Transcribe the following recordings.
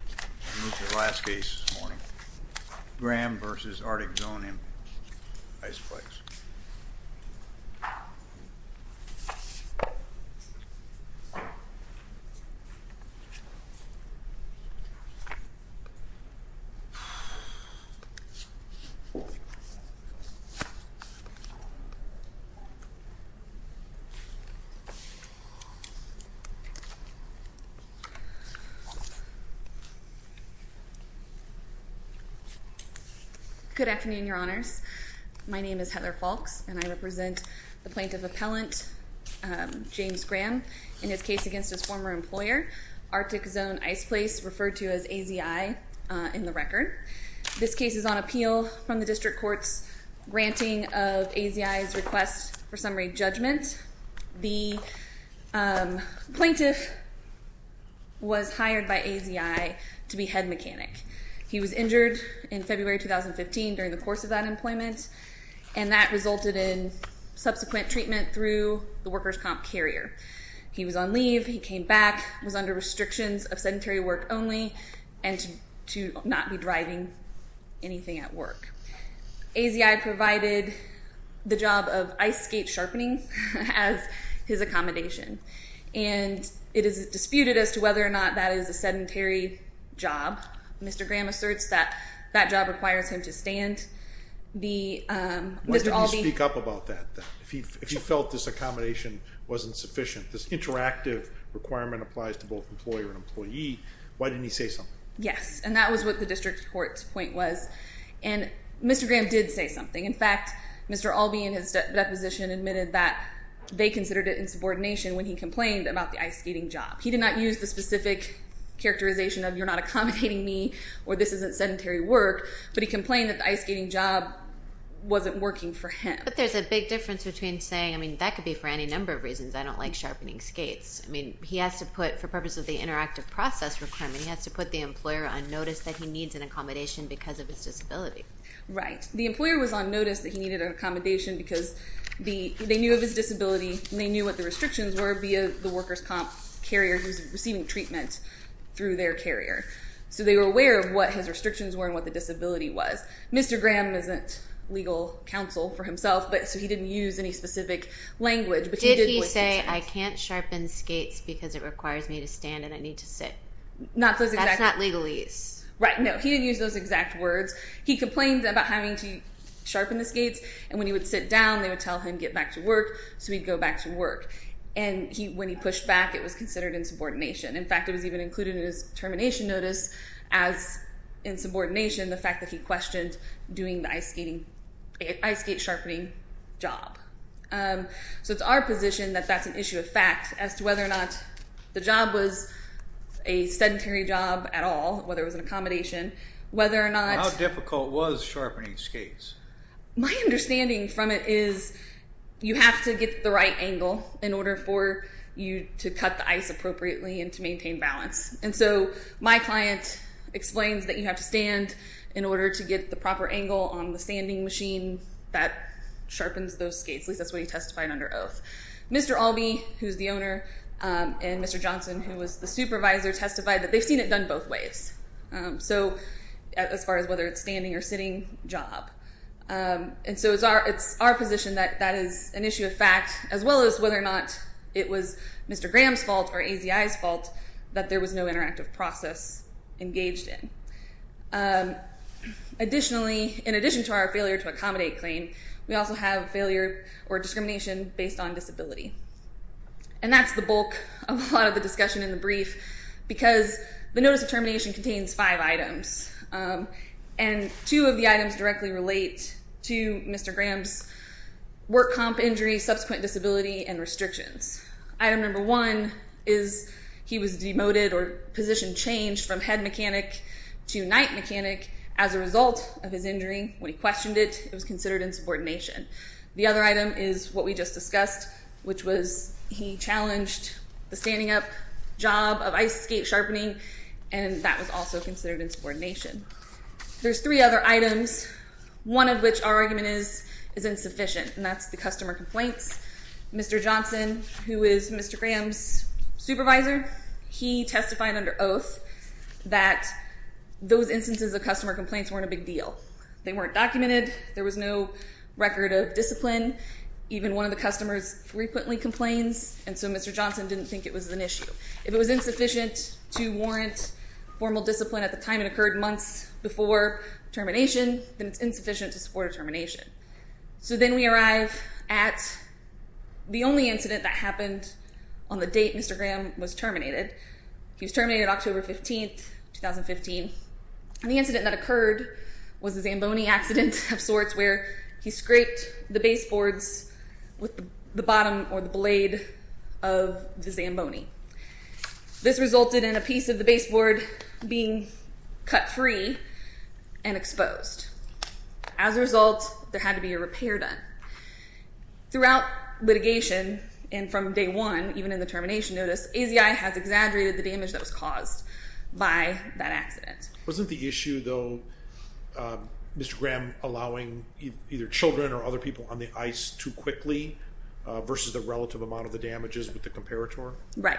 This is the last case this morning. Graham v. Arctic Zone Iceplex Good afternoon, Your Honors. My name is Heather Falks, and I represent the Plaintiff Appellant James Graham in his case against his former employer, Arctic Zone Iceplex, referred to as AZI in the record. This case is on appeal from the District Court's granting of AZI's request for summary judgment. The plaintiff was hired by AZI to be head mechanic. He was injured in February 2015 during the course of that employment and that resulted in subsequent treatment through the workers' comp carrier. He was on leave, he came back, was under restrictions of sedentary work only and to not be driving anything at work. AZI provided the job of ice skate sharpening as his accommodation. And it is disputed as to whether or not that is a sedentary job. Mr. Graham asserts that that job requires him to stand. Why didn't he speak up about that? If he felt this accommodation wasn't sufficient, this interactive requirement applies to both employer and employee, why didn't he say something? Yes, and that was what the District Court's point was. And Mr. Graham did say something. In fact, Mr. Albee in his deposition admitted that they considered it insubordination when he complained about the ice skating job. He did not use the specific characterization of you're not accommodating me or this isn't sedentary work, but he complained that the ice skating job wasn't working for him. But there's a big difference between saying, I mean, that could be for any number of reasons. I don't like sharpening skates. I mean, he has to put, for purpose of the interactive process requirement, he has to put the employer on notice that he needs an accommodation because of his disability. Right. The employer was on notice that he needed an accommodation because they knew of his disability and they knew what the restrictions were via the workers' comp carrier who's receiving treatment through their carrier. So they were aware of what his restrictions were and what the disability was. Mr. Graham isn't legal counsel for himself, so he didn't use any specific language, but he did voice his case. Did he say, I can't sharpen skates because it requires me to stand and I need to sit? That's not legalese. Right. No, he didn't use those exact words. He complained about having to tell him, get back to work, so he'd go back to work. And when he pushed back, it was considered insubordination. In fact, it was even included in his termination notice as insubordination, the fact that he questioned doing the ice skating, ice skate sharpening job. So it's our position that that's an issue of fact as to whether or not the job was a sedentary job at all, whether it was an accommodation, whether or not... How difficult was sharpening skates? My understanding from it is you have to get the right angle in order for you to cut the ice appropriately and to maintain balance. And so my client explains that you have to stand in order to get the proper angle on the standing machine that sharpens those skates. At least that's what he testified under oath. Mr. Albee, who's the owner, and Mr. Johnson, who was the supervisor, testified that they've seen it done both ways. So as far as whether it's standing or sitting job. And so it's our position that that is an issue of fact as well as whether or not it was Mr. Graham's fault or AZI's fault that there was no interactive process engaged in. Additionally, in addition to our failure to accommodate claim, we also have failure or discrimination based on disability. And that's the bulk of a lot of the discussion in the brief because the notice of termination contains five items. And two of the items directly relate to Mr. Graham's work comp injury, subsequent disability, and restrictions. Item number one is he was demoted or position changed from head mechanic to knight mechanic as a result of his injury. When he questioned it, it was considered insubordination. The other item is what we just discussed, which was he challenged the standing up job of ice skate sharpening. And that was also considered insubordination. There's three other items, one of which our argument is insufficient. And that's the customer complaints. Mr. Johnson, who is Mr. Graham's supervisor, he testified under oath that those instances of customer complaints weren't a big deal. They weren't documented. There was no record of discipline. Even one of the customers frequently complains. And so Mr. Johnson didn't think it was an issue. If it was insufficient to warrant formal discipline at the time it occurred, months before termination, then it's insufficient to support a termination. So then we arrive at the only incident that happened on the date Mr. Graham was terminated. He was terminated October 15, 2015. And the incident that occurred was a Zamboni accident of sorts where he scraped the baseboards with the bottom or the blade of the Zamboni. This resulted in a piece of the baseboard being cut free and exposed. As a result, there had to be a repair done. Throughout litigation, and from day one, even in the termination notice, AZI has exaggerated the damage that was caused by that accident. Wasn't the issue, though, Mr. Graham allowing either children or other people on the ice too quickly versus the relative amount of the damages with the Comparator? Right.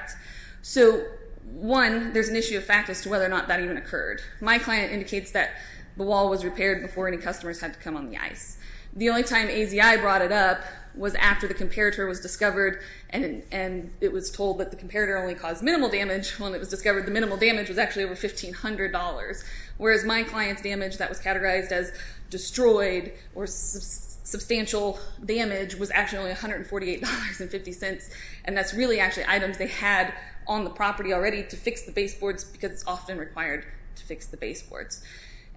So, one, there's an issue of fact as to whether or not that even occurred. My client indicates that the wall was repaired before any customers had to come on the ice. The only time AZI brought it up was after the Comparator was discovered and it was told that the Comparator only caused minimal damage when it was discovered. The minimal damage was actually over $1,500, whereas my client's damage that was categorized as destroyed or damaged was actually only $148.50, and that's really actually items they had on the property already to fix the baseboards because it's often required to fix the baseboards.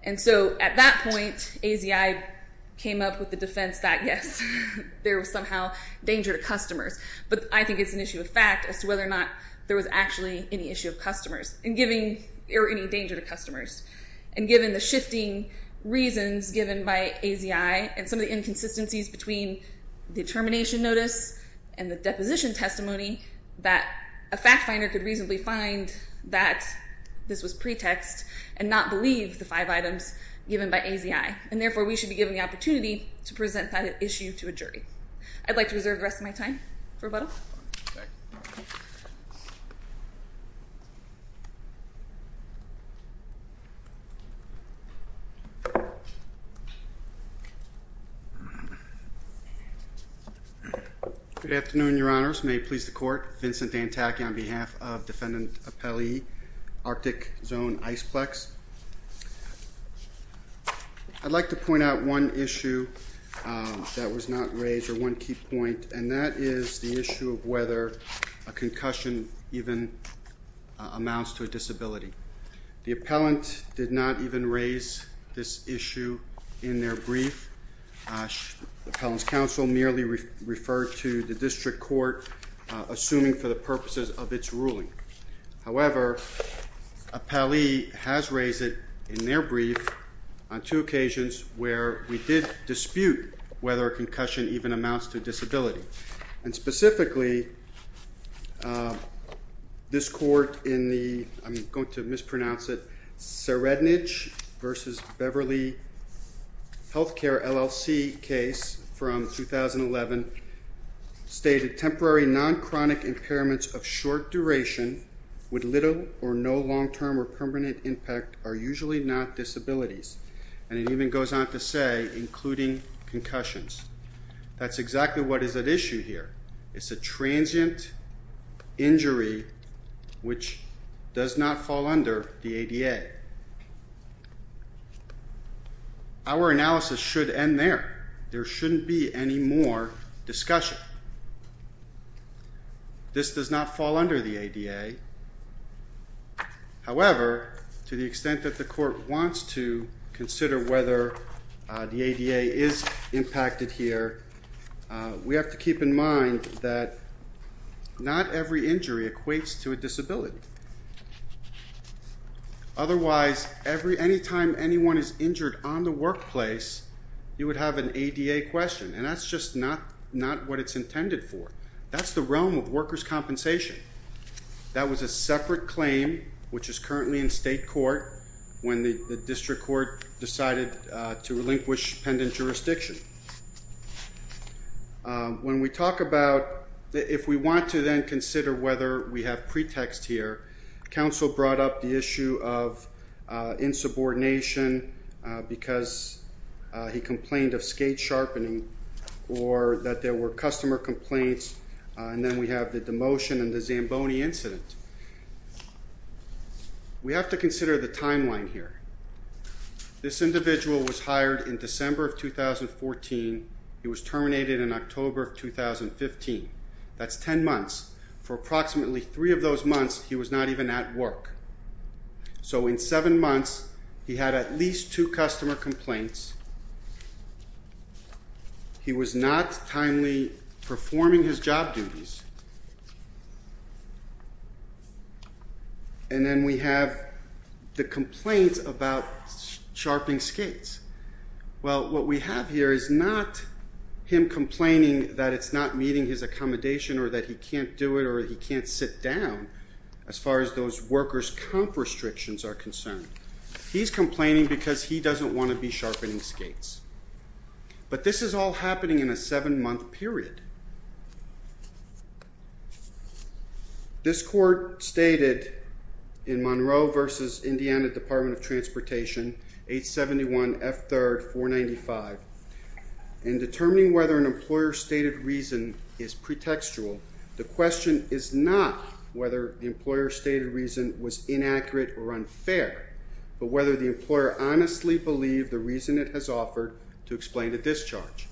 And so, at that point, AZI came up with the defense that, yes, there was somehow danger to customers. But I think it's an issue of fact as to whether or not there was actually any issue of customers, or any danger to customers. And given the shifting reasons given by AZI and some of the inconsistencies between the termination notice and the deposition testimony, that a fact finder could reasonably find that this was pretext and not believe the five items given by AZI. And therefore, we should be given the opportunity to present that issue to a jury. I'd like to reserve the rest of my time for rebuttal. Good afternoon, Your Honors. May it please the Court. Vincent Dantacchi on behalf of Defendant Appellee Arctic Zone Iceplex. I'd like to point out one issue that was not raised, or one key point, and that is the issue of whether a concussion even amounts to a disability. The appellant did not even raise this issue in their brief. The appellant's counsel merely referred to the district court assuming for the purposes of its ruling. However, Appellee has raised it in their brief on two occasions where we did dispute whether a concussion even amounts to a disability. And specifically, this court in the, I'm going to mispronounce it, Serednich versus Beverly Healthcare, LLC case from 2011 stated, temporary non-chronic impairments of short duration with little or no long-term or permanent impact are usually not disabilities. And it even goes on to say, including concussions. That's exactly what is at issue here. It's a transient injury which does not fall under the ADA. Our analysis should end there. There shouldn't be any more discussion. This does not fall under the ADA. However, to the extent that the court wants to consider whether the ADA is impacted here, we have to keep in mind that not every injury equates to a disability. Otherwise, any time anyone is injured on the workplace, you would have an ADA question. And that's just not what it's intended for. That's the realm of workers' compensation. That was a separate claim which is currently in state court when the district court decided to relinquish pendant jurisdiction. When we talk about, if we want to then consider whether we have pretext here, counsel brought up the issue of insubordination because he complained of skate sharpening or that there were customer complaints. And then we have the demotion and the Zamboni incident. We have to consider the timeline here. This individual was hired in December of 2014. He was terminated in October of 2015. That's 10 months. For approximately 3 of those months, he was not even at work. So in 7 months, he had at least 2 customer complaints. He was not timely performing his job duties. And then we have the complaint about sharpening skates. Well, what we have here is not him complaining that it's not meeting his accommodation or that he can't do it or he can't sit down as far as those workers' comp restrictions are concerned. He's complaining because he doesn't want to be sharpening skates. But this is all happening in a 7-month period. This court stated in Monroe v. Indiana Department of Transportation, 871 F. 3rd, 495, in determining whether an employer stated reason is pretextual, the question is not whether the employer stated reason was inaccurate or unfair, but whether the employer honestly believed the reason it has offered to explain the discharge.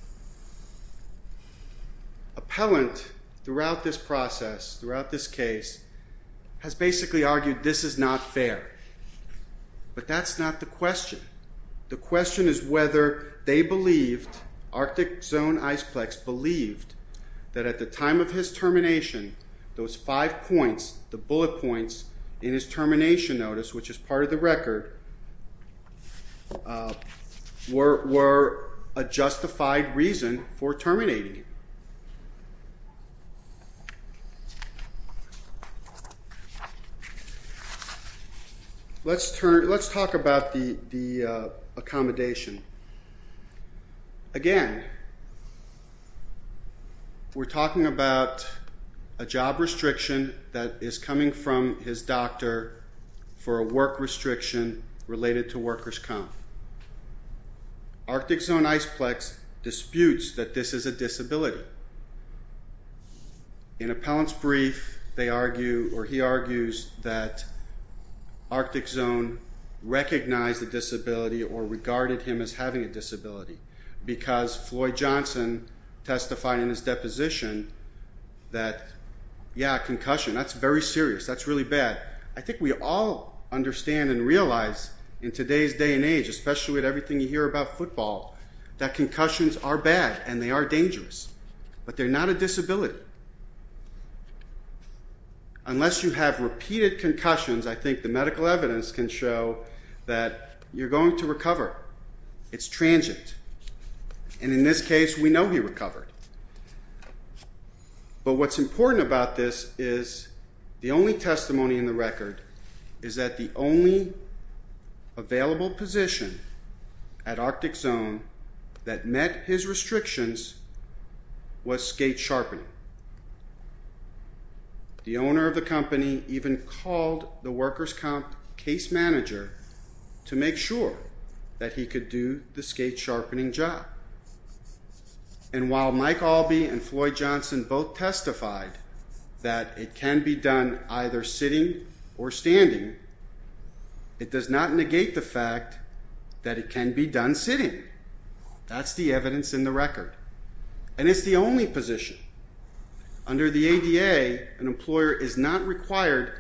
Appellant, throughout this process, throughout this case, has basically argued this is not fair. But that's not the question. The question is whether they believed, Arctic Zone Iceplex believed, that at the time of his termination those 5 points, the bullet points in his termination notice, which is part of the record, were a justified reason for terminating him. Let's talk about the accommodation. Again, we're talking about a job restriction that is coming from his doctor for a work restriction related to workers' comp. Arctic Zone Iceplex disputes that this is a disability. In Appellant's brief, he argues that Arctic Zone recognized the disability or regarded him as having a disability because Floyd Johnson testified in his deposition that yeah, concussion, that's very serious, that's really bad. I think we all understand and realize in today's day and age, especially with everything you hear about football, that concussions are bad and they are dangerous. But they're not a disability. Unless you have repeated concussions, I think the medical evidence can show that you're going to recover. It's transient. And in this case, we know he recovered. But what's important about this is the only testimony in the record is that the only available position at Arctic Zone that met his restrictions was skate sharpening. The owner of the company even called the workers' comp case manager to make sure that he could do the skate sharpening job. And while Mike Albee and Floyd Johnson both testified that it can be done either sitting or standing, it does not negate the fact that it can be done sitting. That's the evidence in the record. And it's the only position. Under the ADA, an employer is not required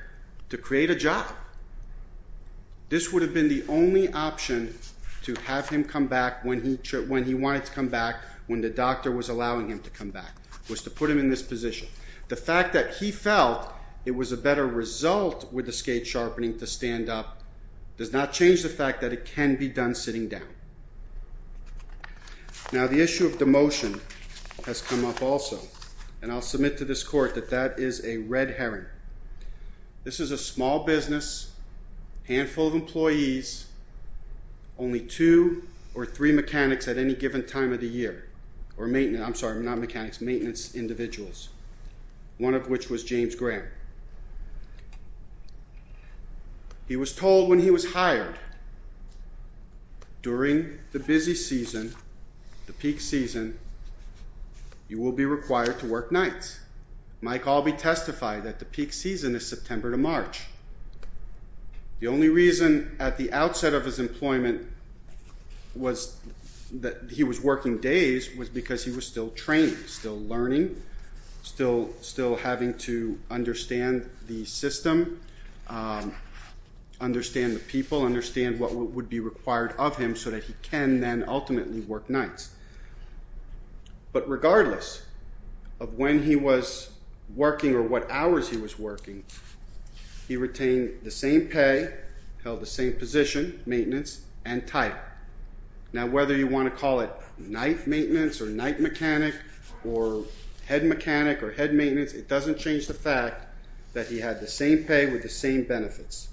to create a job. This would have been the only option to have him come back when he wanted to come back, when the doctor was allowing him to come back, was to put him in this position. The fact that he felt it was a better result with the skate sharpening to stand up does not change the fact that it can be done sitting down. Now, the issue of demotion has come up also. And I'll submit to this Court that that is a red herring. This is a small business, handful of employees, only two or three mechanics at any given time of the year. Or maintenance. I'm sorry, not mechanics. Maintenance individuals. One of which was James Graham. He was told when he was hired during the busy season, the peak season, you will be required to work nights. Mike Albee testified that the peak season is September to March. The only reason at the outset of his employment was that he was working days was because he was still training, still learning, still having to understand the system, understand the people, understand what would be required of him so that he can then ultimately work nights. But regardless of when he was working or what hours he was working, he retained the same pay, held the same position, maintenance, and title. Now, whether you want to call it night maintenance or night mechanic or head mechanic or head maintenance, it doesn't change the fact that he had the same pay with the same benefits.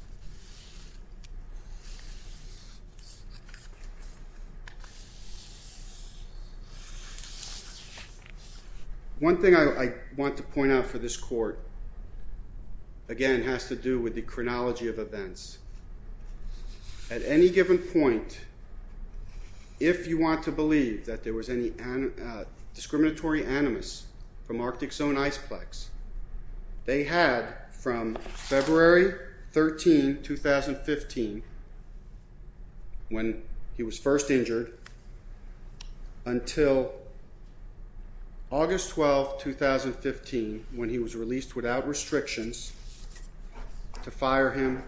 One thing I want to point out for this Court again has to do with the chronology of events. At any given point, if you want to look at the case of the discriminatory animus from Arctic Zone Iceplex, they had from February 13, 2015, when he was first injured, until August 12, 2015, when he was released without restrictions to fire him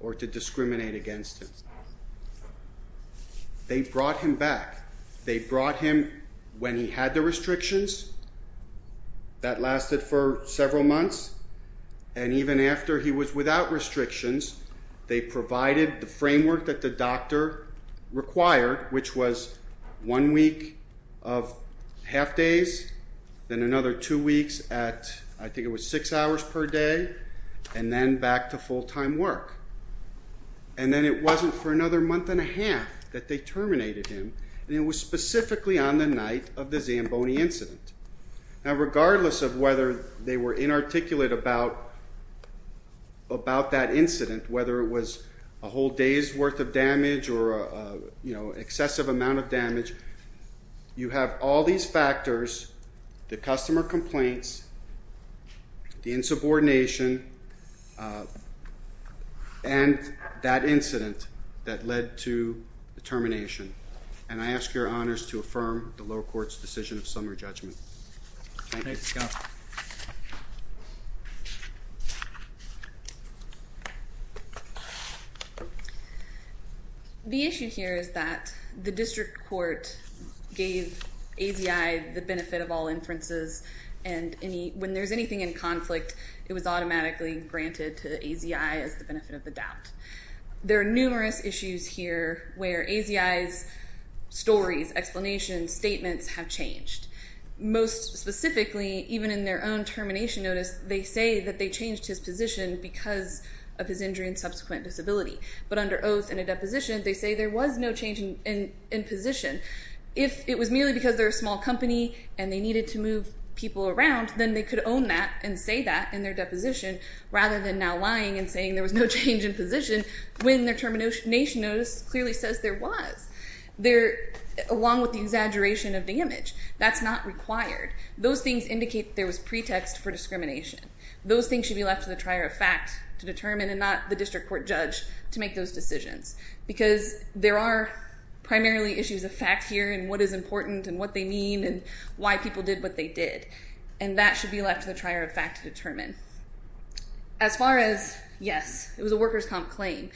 or to discriminate against him. They brought him back. They brought him when he had the restrictions. That lasted for several months. And even after he was without restrictions, they provided the framework that the doctor required, which was one week of half days, then another two weeks at, I think it was six hours per day, and then back to full-time work. And then it wasn't for another month and a half that they terminated him, and it was specifically on the night of the Zamboni incident. Now regardless of whether they were inarticulate about that incident, whether it was a whole day's worth of damage or an excessive amount of damage, you have all these factors, the customer complaints, the insubordination, and that incident that led to the termination. And I ask your honors to affirm the lower court's decision of summary judgment. The issue here is that the district court gave AZI the benefit of all inferences, and when there's anything in conflict, it was automatically granted to AZI as the benefit of the doubt. There are numerous issues here where AZI's stories, explanations, statements have changed. Most specifically, even in their own termination notice, they say that they changed his position because of his injury and subsequent disability. But under oath and a deposition, they say there was no change in position. If it was merely because they're a small company and they needed to move people around, then they could own that and say that in their deposition rather than now lying and saying there was no change in position when their termination notice clearly says there was, along with the exaggeration of damage. That's not required. Those things indicate there was pretext for discrimination. Those things should be left to the trier of fact to determine and not the district court judge to make those decisions. Because there are primarily issues of fact here and what is important and what they mean and why people did what they did. And that should be left to the trier of fact to determine. As far as, yes, it was a workers' comp claim.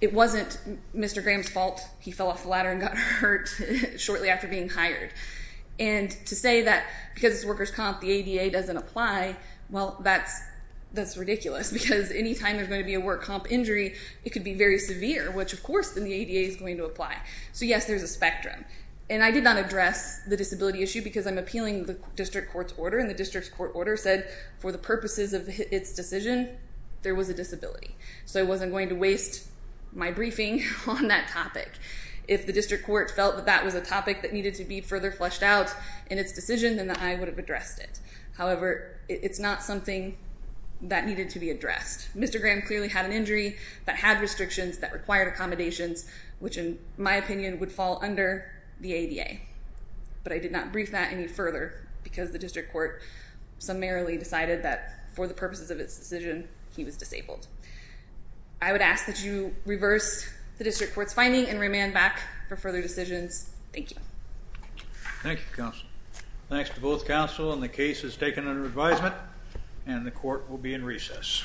It wasn't Mr. Graham's fault he fell off the ladder and got hurt shortly after being hired. And to say that because it's a workers' comp, the ADA doesn't apply, well, that's ridiculous. Because any time there's going to be a work comp injury, it could be very severe, which of course the ADA is going to apply. So yes, there's a spectrum. And I did not address the disability issue because I'm appealing the district court's order and the district court order said for the purposes of its decision there was a disability. So I wasn't going to waste my briefing on that topic. If the district court felt that that was a topic that needed to be further fleshed out in its decision, then I would have addressed it. However, it's not something that needed to be addressed. Mr. Graham clearly had an injury that had restrictions that required accommodations, which in my opinion would fall under the ADA. But I did not brief that any further because the district court summarily decided that for the purposes of its decision, he was disabled. I would ask that you reverse the district court's finding and remand back for further decisions. Thank you. Thank you, counsel. Thanks to both counsel and the case is taken under advisement and the court will be in recess. Thank you.